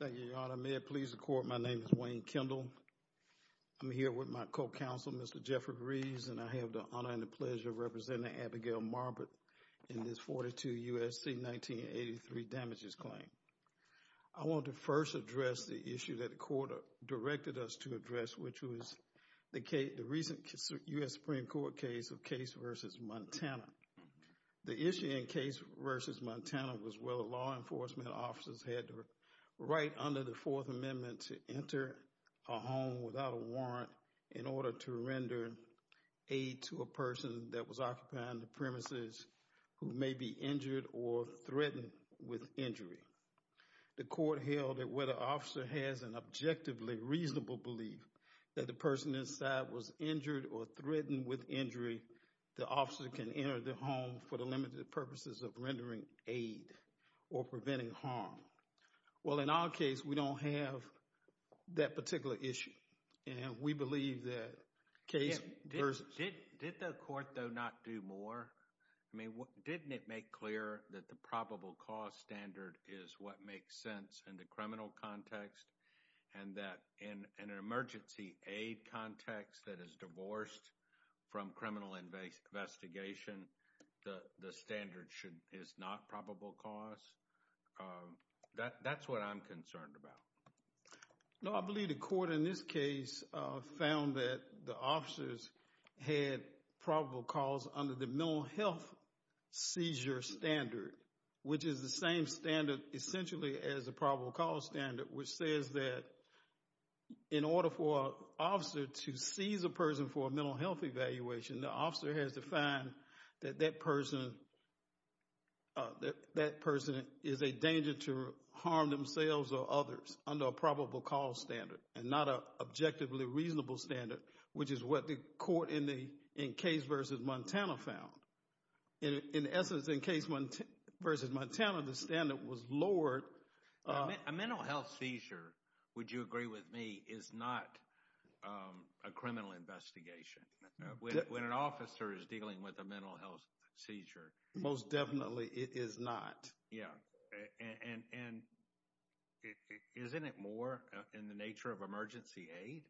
Thank you, Your Honor. May it please the Court, my name is Wayne Kendall. I'm here with my co-counsel, Mr. Jeffrey Rees, and I have the honor and the pleasure of representing Abigail Marbut in this 42 U.S.C. 1983 damages claim. I want to first address the issue that the Court directed us to address, which was the recent U.S. Supreme Court case of Case v. Montana. The issue in Case v. Montana was whether law enforcement officers had the right under the Fourth Amendment to enter a home without a warrant in order to render aid to a person that was occupying the premises who may be injured or threatened with injury. The Court held that whether an officer has an objectively reasonable belief that the person inside was injured or threatened with injury, the officer can enter the home for the limited purposes of rendering aid or preventing harm. Well, in our case, we don't have that particular issue, and we believe that Case v. Did the Court, though, not do more? I mean, didn't it make clear that the probable cause standard is what makes sense in the criminal context and that in an emergency aid context that is divorced from criminal investigation, the standard is not probable cause? That's what I'm concerned about. No, I believe the Court in this case found that the officers had probable cause under the mental health seizure standard, which is the same standard, essentially, as the probable cause standard, which says that in order for an officer to seize a person for a mental health evaluation, the officer has to find that that person is a danger to harm themselves or others under a probable cause standard and not an objectively reasonable standard, which is what the Court in Case v. Montana found. In essence, in Case v. Montana, the standard was lowered. A mental health seizure, would you agree with me, is not a criminal investigation. When an officer is dealing with a mental health seizure, most definitely it is not. Yeah, and isn't it more in the nature of emergency aid?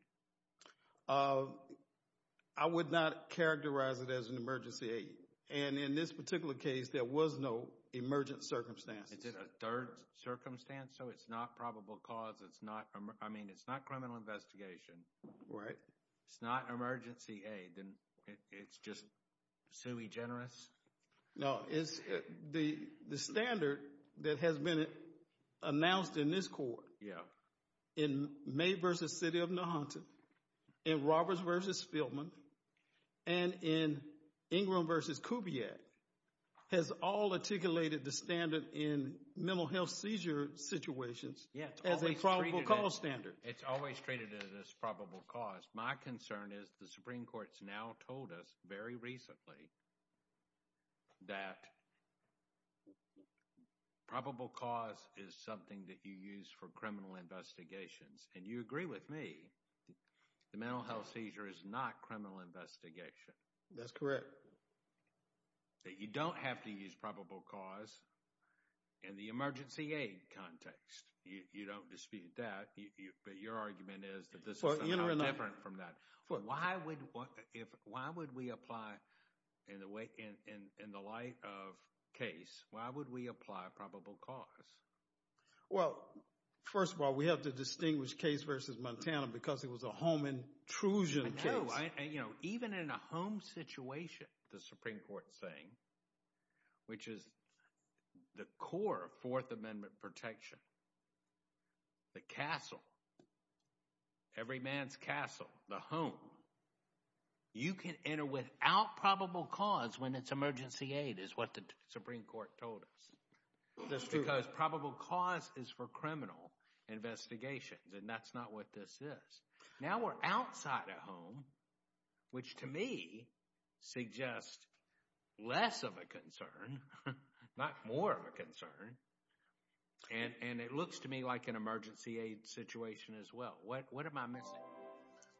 I would not characterize it as an emergency aid, and in this particular case, there was no emergent circumstances. Is it a third circumstance, so it's not probable cause, it's not, I mean, it's not criminal investigation, it's not emergency aid, and it's just sui generis? No, it's the standard that has been announced in this Court, in May v. City of New Hampshire, in Roberts v. Fieldman, and in Ingram v. Kubiak, has all articulated the standard in mental health seizure situations as a probable cause standard. It's always treated as probable cause. My concern is the Supreme Court's now told us, very recently, that probable cause is something that you use for criminal investigations, and you agree with me, the mental health seizure is not criminal investigation. That's correct. That you don't have to use probable cause in the emergency aid context. You don't dispute that, but your argument is that this is somehow different from that. Why would we apply, in the light of case, why would we apply probable cause? Well, first of all, we have to distinguish case v. Montana because it was a home intrusion case. I know. Even in a home situation, the Supreme Court's saying, which is the core of Fourth Amendment protection, the castle, every man's castle, the home, you can enter without probable cause when it's emergency aid, is what the Supreme Court told us. That's true. Because probable cause is for criminal investigations, and that's not what this is. Now we're outside a home, which to me, suggests less of a concern, not more of a concern, and it looks to me like an emergency aid situation as well. What am I missing?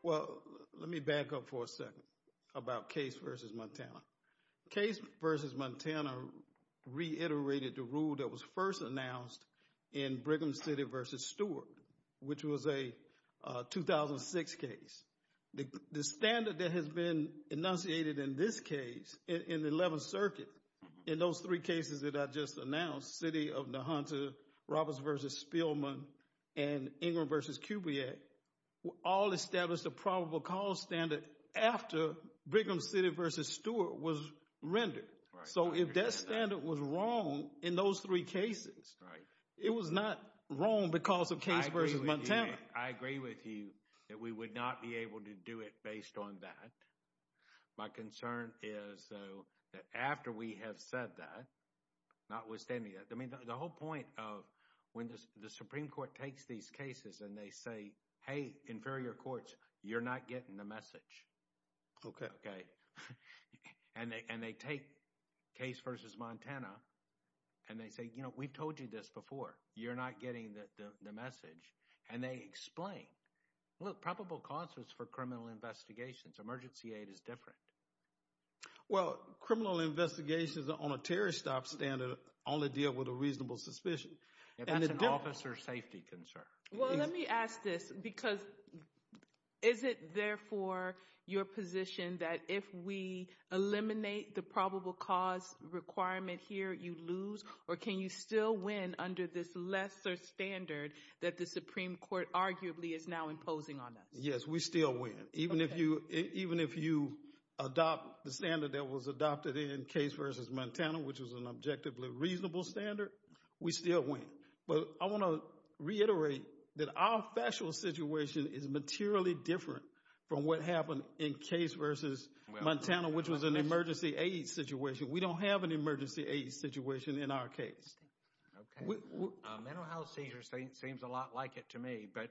Well, let me back up for a second about case v. Montana. Case v. Montana reiterated the rule that was first announced in Brigham City v. Stewart, which was a 2006 case. The standard that has been enunciated in this case, in the 11th Circuit, in those three cases that I just announced, City of Nahanta, Roberts v. Spielman, and Ingram v. Kubiak, all established a probable cause standard after Brigham City v. Stewart was rendered. So if that standard was wrong in those three cases, it was not wrong because of case v. Montana. I agree with you that we would not be able to do it based on that. My concern is that after we have said that, notwithstanding that, I mean, the whole point of when the Supreme Court takes these cases and they say, hey, inferior courts, you're not getting the message, okay? And they take case v. Montana and they say, you know, we've told you this before, you're not getting the message. And they explain, look, probable cause is for criminal investigations. Emergency aid is different. Well, criminal investigations on a terror stop standard only deal with a reasonable suspicion. If that's an officer safety concern. Well, let me ask this, because is it therefore your position that if we eliminate the probable cause requirement here, you lose? Or can you still win under this lesser standard that the Supreme Court arguably is now imposing on us? Yes, we still win. Even if you adopt the standard that was adopted in case v. Montana, which was an objectively reasonable standard, we still win. But I want to reiterate that our factual situation is materially different from what happened in case v. Montana, which was an emergency aid situation. We don't have an emergency aid situation in our case. Okay. A mental health seizure seems a lot like it to me. But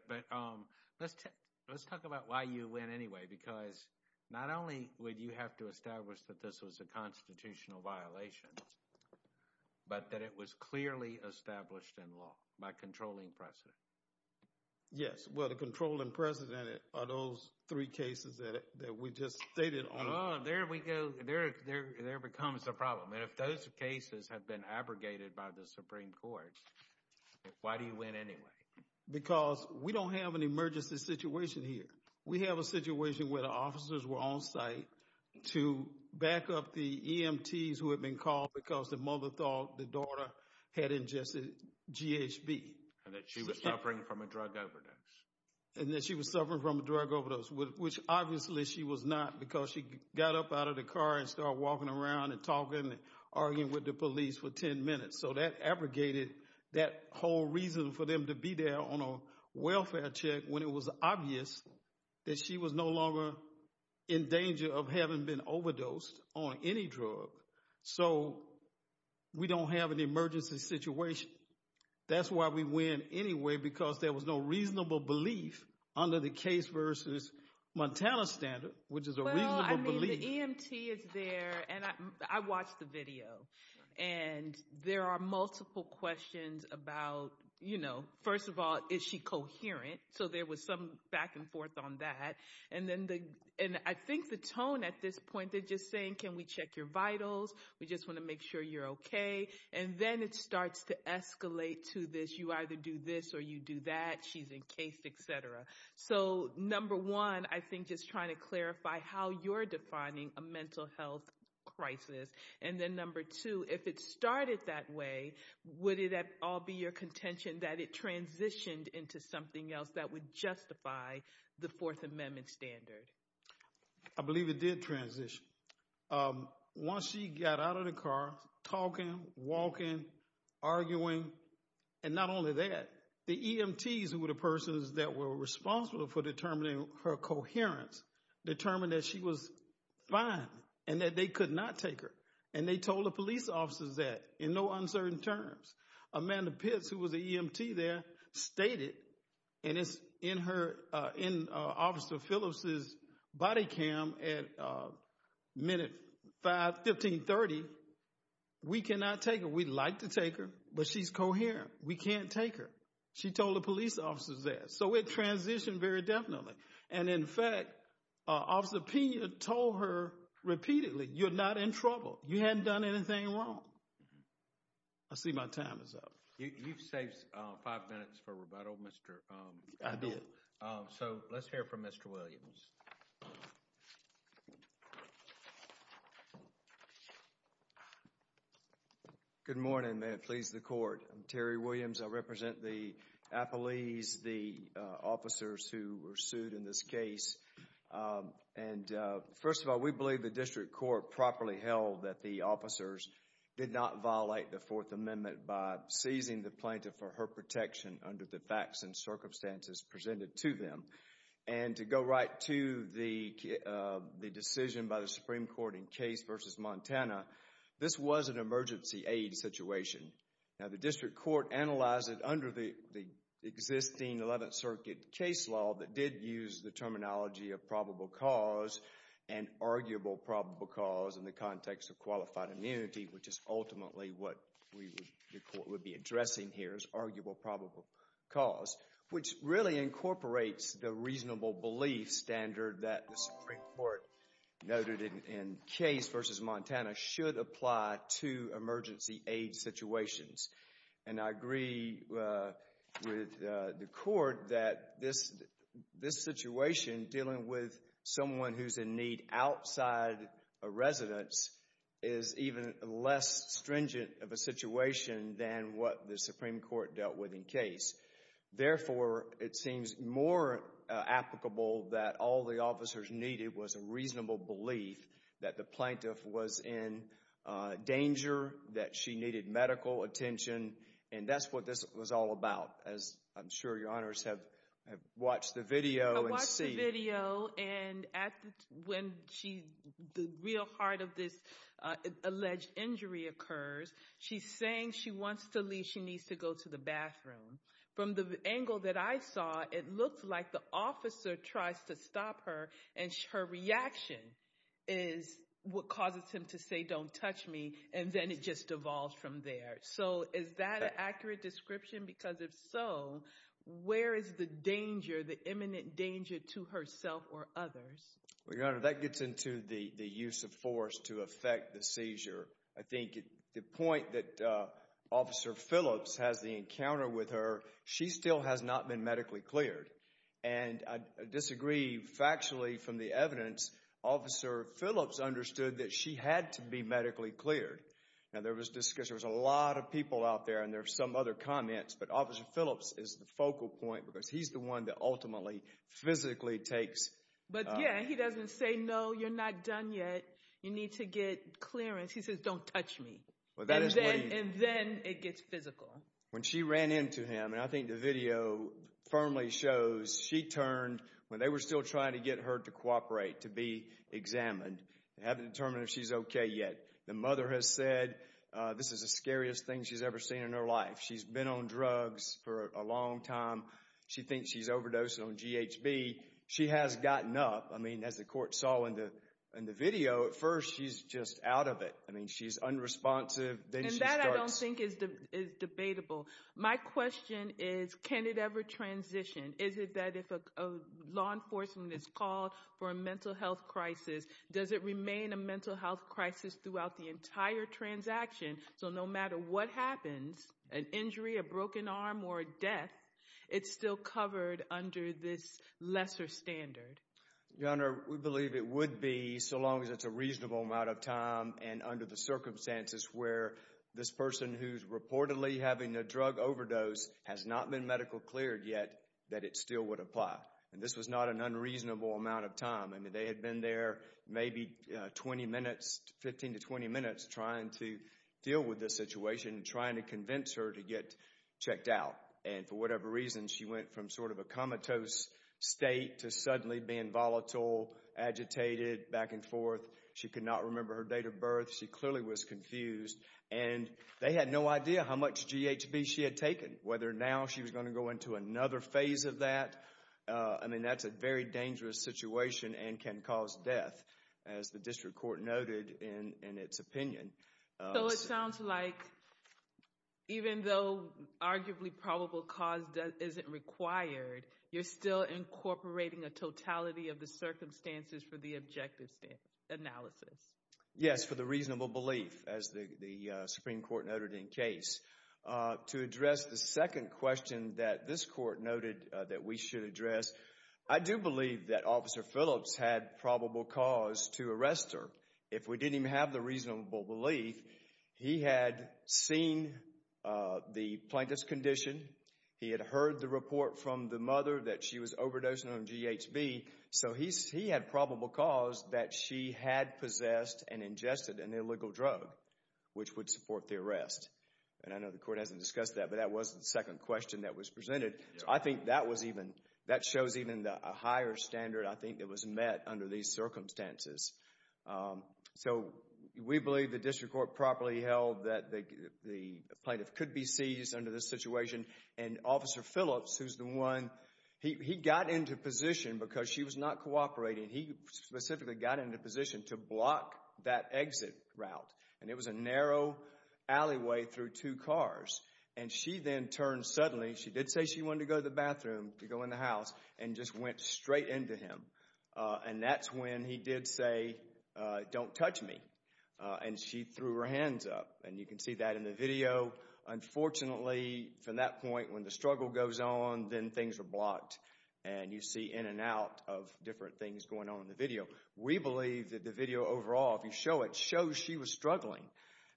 let's talk about why you win anyway, because not only would you have to establish that this was a constitutional violation, but that it was clearly established in law by controlling precedent. Yes. Well, the controlling precedent are those three cases that we just stated on. Oh, there we go. There becomes a problem. And if those cases have been abrogated by the Supreme Court, why do you win anyway? Because we don't have an emergency situation here. We have a situation where the officers were on site to back up the EMTs who had been called because the mother thought the daughter had ingested GHB. And that she was suffering from a drug overdose. And that she was suffering from a drug overdose, which obviously she was not because she got up out of the car and started walking around and talking and arguing with the police for 10 minutes. So that abrogated that whole reason for them to be there on a welfare check when it was obvious that she was no longer in danger of having been overdosed on any drug. So we don't have an emergency situation. That's why we win anyway, because there was no reasonable belief under the case versus Montana standard, which is a reasonable belief. Well, I mean, the EMT is there, and I watched the video. And there are multiple questions about, you know, first of all, is she coherent? So there was some back and forth on that. And I think the tone at this point, they're just saying, can we check your vitals? We just want to make sure you're okay. And then it starts to escalate to this, you either do this or you do that, she's encased, et cetera. So number one, I think just trying to clarify how you're defining a mental health crisis. And then number two, if it started that way, would it all be your contention that it transitioned into something else that would justify the Fourth Amendment standard? I believe it did transition. Once she got out of the car, talking, walking, arguing, and not only that, the EMTs, who were the persons that were responsible for determining her coherence, determined that she was fine and that they could not take her. And they told the police officers that in no uncertain terms. Amanda Pitts, who was an EMT there, stated, and it's in her, in Officer Phillips's body cam at minute 1530, we cannot take her. We'd like to take her, but she's coherent. We can't take her. She told the police officers that. So it transitioned very definitely. And in fact, Officer Pena told her repeatedly, you're not in trouble. You hadn't done anything wrong. I see my time is up. You've saved five minutes for rebuttal, Mr. Ido. I did. So let's hear from Mr. Williams. Good morning. May it please the court. I'm Terry Williams. I represent the appellees, the officers who were sued in this case. And first of all, we believe the district court properly held that the officers did not violate the Fourth Amendment by seizing the plaintiff for her protection under the facts and circumstances presented to them. And to go right to the decision by the Supreme Court in Case v. Montana, this was an emergency aid situation. Now, the district court analyzed it under the existing Eleventh Circuit case law that did use the terminology of probable cause and arguable probable cause in the context of qualified immunity, which is ultimately what the court would be addressing here as arguable probable cause, which really incorporates the reasonable belief standard that the Supreme Court noted in Case v. Montana should apply to emergency aid situations. And I agree with the court that this situation dealing with someone who's in need outside a residence is even less stringent of a situation than what the Supreme Court dealt with in Case. Therefore, it seems more applicable that all the officers needed was a reasonable belief that the plaintiff was in danger, that she needed medical attention. And that's what this was all about, as I'm sure your honors have watched the video and seen. And when the real heart of this alleged injury occurs, she's saying she wants to leave, she needs to go to the bathroom. From the angle that I saw, it looks like the officer tries to stop her and her reaction is what causes him to say, don't touch me. And then it just devolves from there. So is that an accurate description? Because if so, where is the danger, the imminent danger to herself or others? Well, your honor, that gets into the use of force to affect the seizure. I think the point that Officer Phillips has the encounter with her, she still has not been medically cleared. And I disagree factually from the evidence, Officer Phillips understood that she had to be medically cleared. Now there was discussion, there was a lot of people out there and there are some other comments, but Officer Phillips is the focal point because he's the one that ultimately physically takes. But yeah, he doesn't say, no, you're not done yet. You need to get clearance. He says, don't touch me. And then it gets physical. When she ran into him, and I think the video firmly shows she turned when they were still trying to get her to cooperate, to be examined. They haven't determined if she's okay yet. The mother has said this is the scariest thing she's ever seen in her life. She's been on drugs for a long time. She thinks she's overdosed on GHB. She has gotten up. I mean, as the court saw in the video, at first she's just out of it. I mean, she's unresponsive. And that I don't think is debatable. My question is, can it ever transition? Is it that if a law enforcement is called for a mental health crisis, does it remain a mental health crisis throughout the entire transaction? So no matter what happens, an injury, a broken arm, or a death, it's still covered under this lesser standard? Your Honor, we believe it would be so long as it's a reasonable amount of time and under the circumstances where this person who's reportedly having a drug overdose has not been medical cleared yet, that it still would apply. And this was not an unreasonable amount of time. I mean, they had been there maybe 20 minutes, 15 to 20 minutes, trying to deal with this situation and trying to convince her to get checked out. And for whatever reason, she went from sort of a comatose state to suddenly being volatile, agitated, back and forth. She could not remember her date of birth. She clearly was confused. And they had no idea how much GHB she had taken. Whether now she was going to go into another phase of that, I mean, that's a very dangerous situation and can cause death, as the District Court noted in its opinion. So it sounds like even though arguably probable cause isn't required, you're still incorporating a totality of the circumstances for the objective analysis? Yes, for the reasonable belief, as the Supreme Court noted in case. To address the question that this Court noted that we should address, I do believe that Officer Phillips had probable cause to arrest her. If we didn't even have the reasonable belief, he had seen the plaintiff's condition. He had heard the report from the mother that she was overdosing on GHB. So he had probable cause that she had possessed and ingested an illegal drug, which would support the arrest. And I know the Court hasn't discussed that, but that was the second question that was presented. So I think that was even, that shows even a higher standard, I think, that was met under these circumstances. So we believe the District Court properly held that the plaintiff could be seized under this situation. And Officer Phillips, who's the one, he got into position because she was not cooperating. He specifically got into position to block that exit route. And it was a narrow alleyway through two cars. And she then turned suddenly, she did say she wanted to go to the bathroom, to go in the house, and just went straight into him. And that's when he did say, don't touch me. And she threw her hands up. And you can see that in the video. Unfortunately, from that point, when the struggle goes on, then things are blocked. And you see in and out of different things going on in the video. We believe that the video overall, if you show it, shows she was struggling.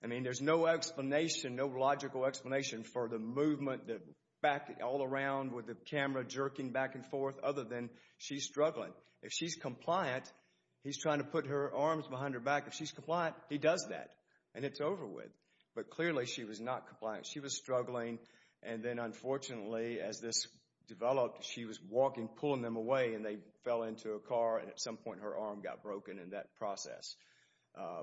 I mean, there's no explanation, no logical explanation, for the movement, the back, all around, with the camera jerking back and forth, other than she's struggling. If she's compliant, he's trying to put her arms behind her back. If she's compliant, he does that. And it's over with. But clearly, she was not compliant. She was struggling. And then unfortunately, as this developed, she was walking, pulling them away, and they fell into a car. And at some point, her arm got broken in that process.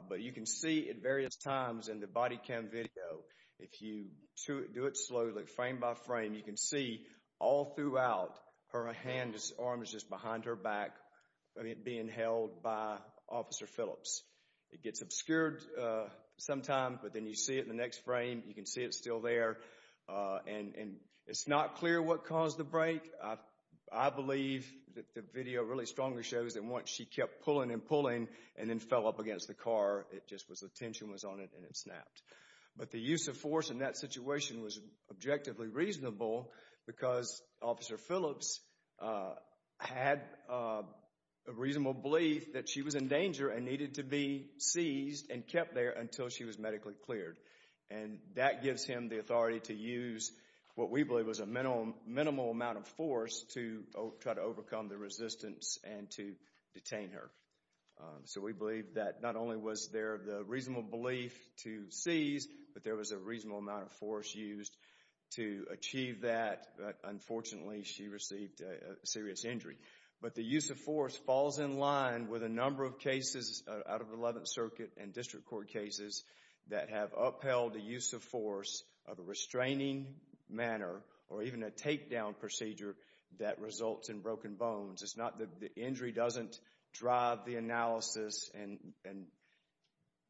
But you can see at various times in the body cam video, if you do it slowly, frame by frame, you can see all throughout, her hand, her arm is just behind her back, being held by Officer Phillips. It gets obscured sometime, but then you see it in the next frame. You can see it's still there. And it's not clear what caused the break. I believe that the video really strongly shows that once she kept pulling and pulling, and then fell up against the car, it just was the tension was on it, and it snapped. But the use of force in that situation was objectively reasonable, because Officer Phillips had a reasonable belief that she was in danger and needed to be seized and kept there until she was medically cleared. And that gives him the authority to use what we believe was a minimal amount of force to try to overcome the resistance and to detain her. So we believe that not only was there the reasonable belief to seize, but there was a reasonable amount of force used to achieve that. But unfortunately, she received a serious injury. But the use of force falls in line with a number of cases out of the 11th Circuit and District Court cases that have upheld the use of force of a restraining manner or even a takedown procedure that results in broken bones. It's not that the injury doesn't drive the analysis and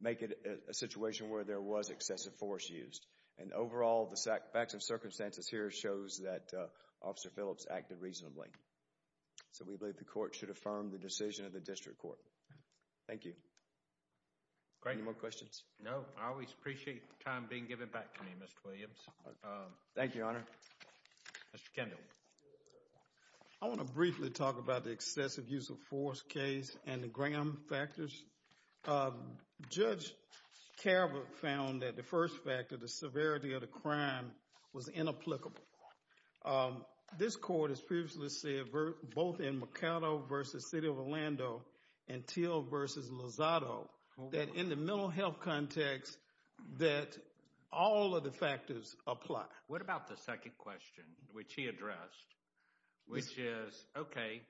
make it a situation where there was excessive force used. And overall, the facts and circumstances here shows that Officer Phillips acted reasonably. So we believe the Court should affirm the decision of the District Court. Thank you. Great. Any more questions? No. I always appreciate the time being given back to me, Mr. Williams. Thank you, Your Honor. Mr. Kendall. I want to briefly talk about the excessive use of force case and the Graham factors. Judge Carver found that the first factor, the severity of the crime, was inapplicable. This Court has previously said, both in Mercado v. City of Orlando and Teal v. Lozado, that in the mental health context, that all of the factors apply. What about the second question, which he addressed, which is, okay,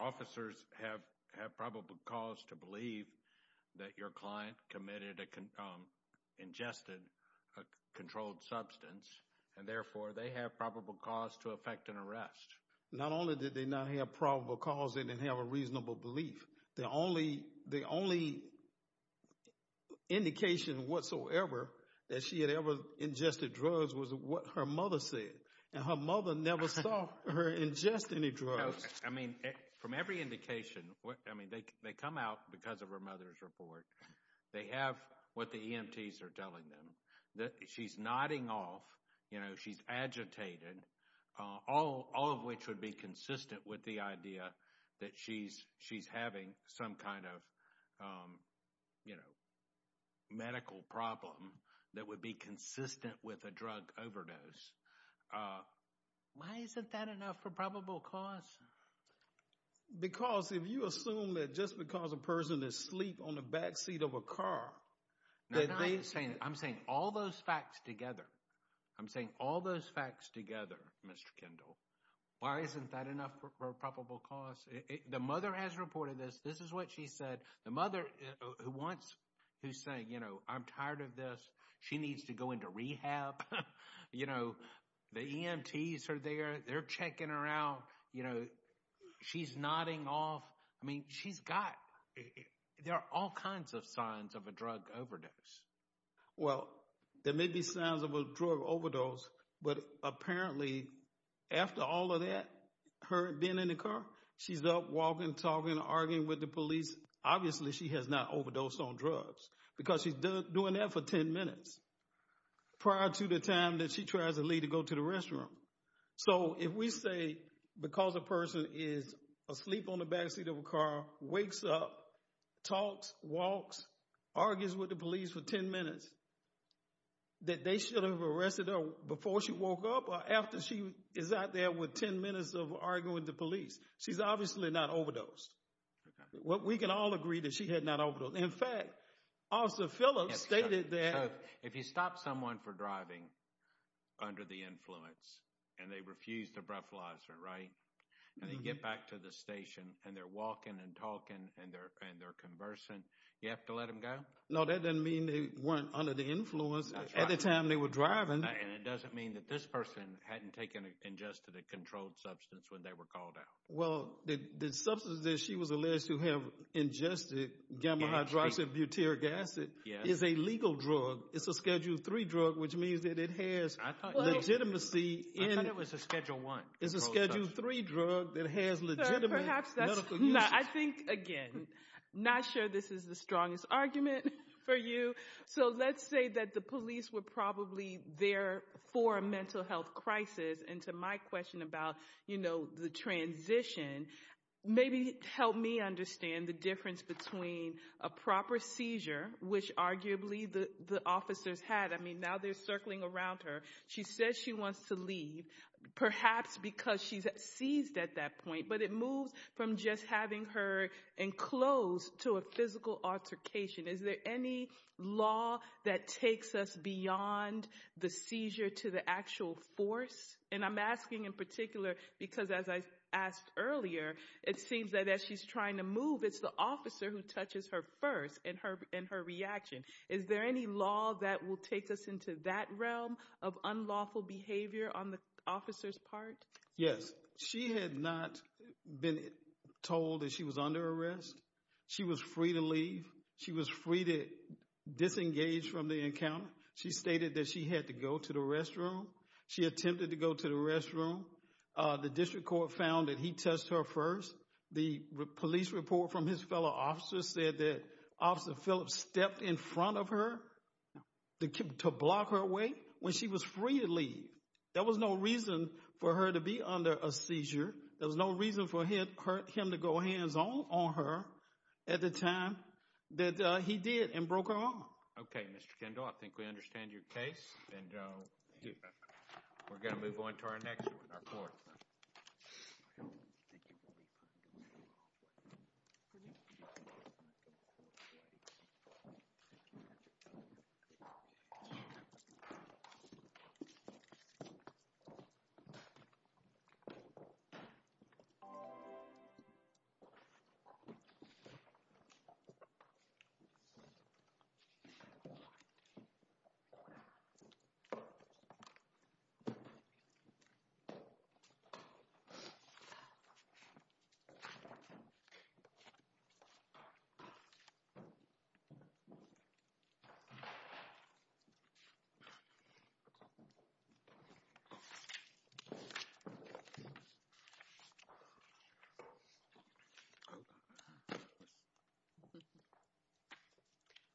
officers have probable cause to believe that your client ingested a controlled substance, and therefore, they have probable cause to affect an arrest. Not only did they not have probable cause, they didn't have a reasonable belief. The only indication whatsoever that she had ever ingested drugs was what her mother said, and her mother never saw her ingest any drugs. I mean, from every indication, I mean, they come out because of her mother's report. They have what the EMTs are telling them, that she's nodding off she's agitated, all of which would be consistent with the idea that she's having some kind of medical problem that would be consistent with a drug overdose. Why isn't that enough for probable cause? Because if you assume that just because a person is asleep on the backseat of a car... I'm saying all those facts together. I'm saying all those facts together, Mr. Kendall. Why isn't that enough for probable cause? The mother has reported this. This is what she said. The mother who's saying, I'm tired of this. She needs to go into rehab. The EMTs are there. They're checking her out. She's nodding off. I mean, there are all kinds of signs of a drug overdose. Well, there may be signs of a drug overdose, but apparently after all of that, her being in the car, she's up walking, talking, arguing with the police. Obviously, she has not overdosed on drugs because she's doing that for 10 minutes prior to the time that she tries to leave to go to the wakes up, talks, walks, argues with the police for 10 minutes that they should have arrested her before she woke up or after she is out there with 10 minutes of arguing with the police. She's obviously not overdosed. We can all agree that she had not overdosed. In fact, Officer Phillips stated that- If you stop someone for driving under the influence and they refuse to breathalyzer, and they get back to the station and they're walking and talking and they're conversing, you have to let them go? No, that doesn't mean they weren't under the influence at the time they were driving. And it doesn't mean that this person hadn't ingested a controlled substance when they were called out. Well, the substance that she was alleged to have ingested, gamma-hydroxybutyric acid, is a legal drug. It's a Schedule III drug, which means that it has legitimacy in- I thought it was a Schedule I. It's a Schedule III drug that has legitimate medical use. I think, again, not sure this is the strongest argument for you. So let's say that the police were probably there for a mental health crisis, and to my question about the transition, maybe help me understand the difference between a proper seizure, which arguably the officers had, I mean, now they're circling around her, she says she wants to leave, perhaps because she's seized at that point, but it moves from just having her enclosed to a physical altercation. Is there any law that takes us beyond the seizure to the actual force? And I'm asking in particular, because as I asked earlier, it seems that as she's trying to move, it's the officer who touches her first in her reaction. Is there any law that will take us into that realm of unlawful behavior on the officer's part? Yes. She had not been told that she was under arrest. She was free to leave. She was free to disengage from the encounter. She stated that she had to go to the restroom. She attempted to go to the restroom. The district court found that he touched her first. The police report from his fellow officer said that Officer Phillips stepped in front of her to block her away when she was free to leave. There was no reason for her to be under a seizure. There was no reason for him to go hands-on on her at the time that he did and broke her Okay, Mr. Kendall. I think we understand your case, and we're going to move on to our next one, our fourth.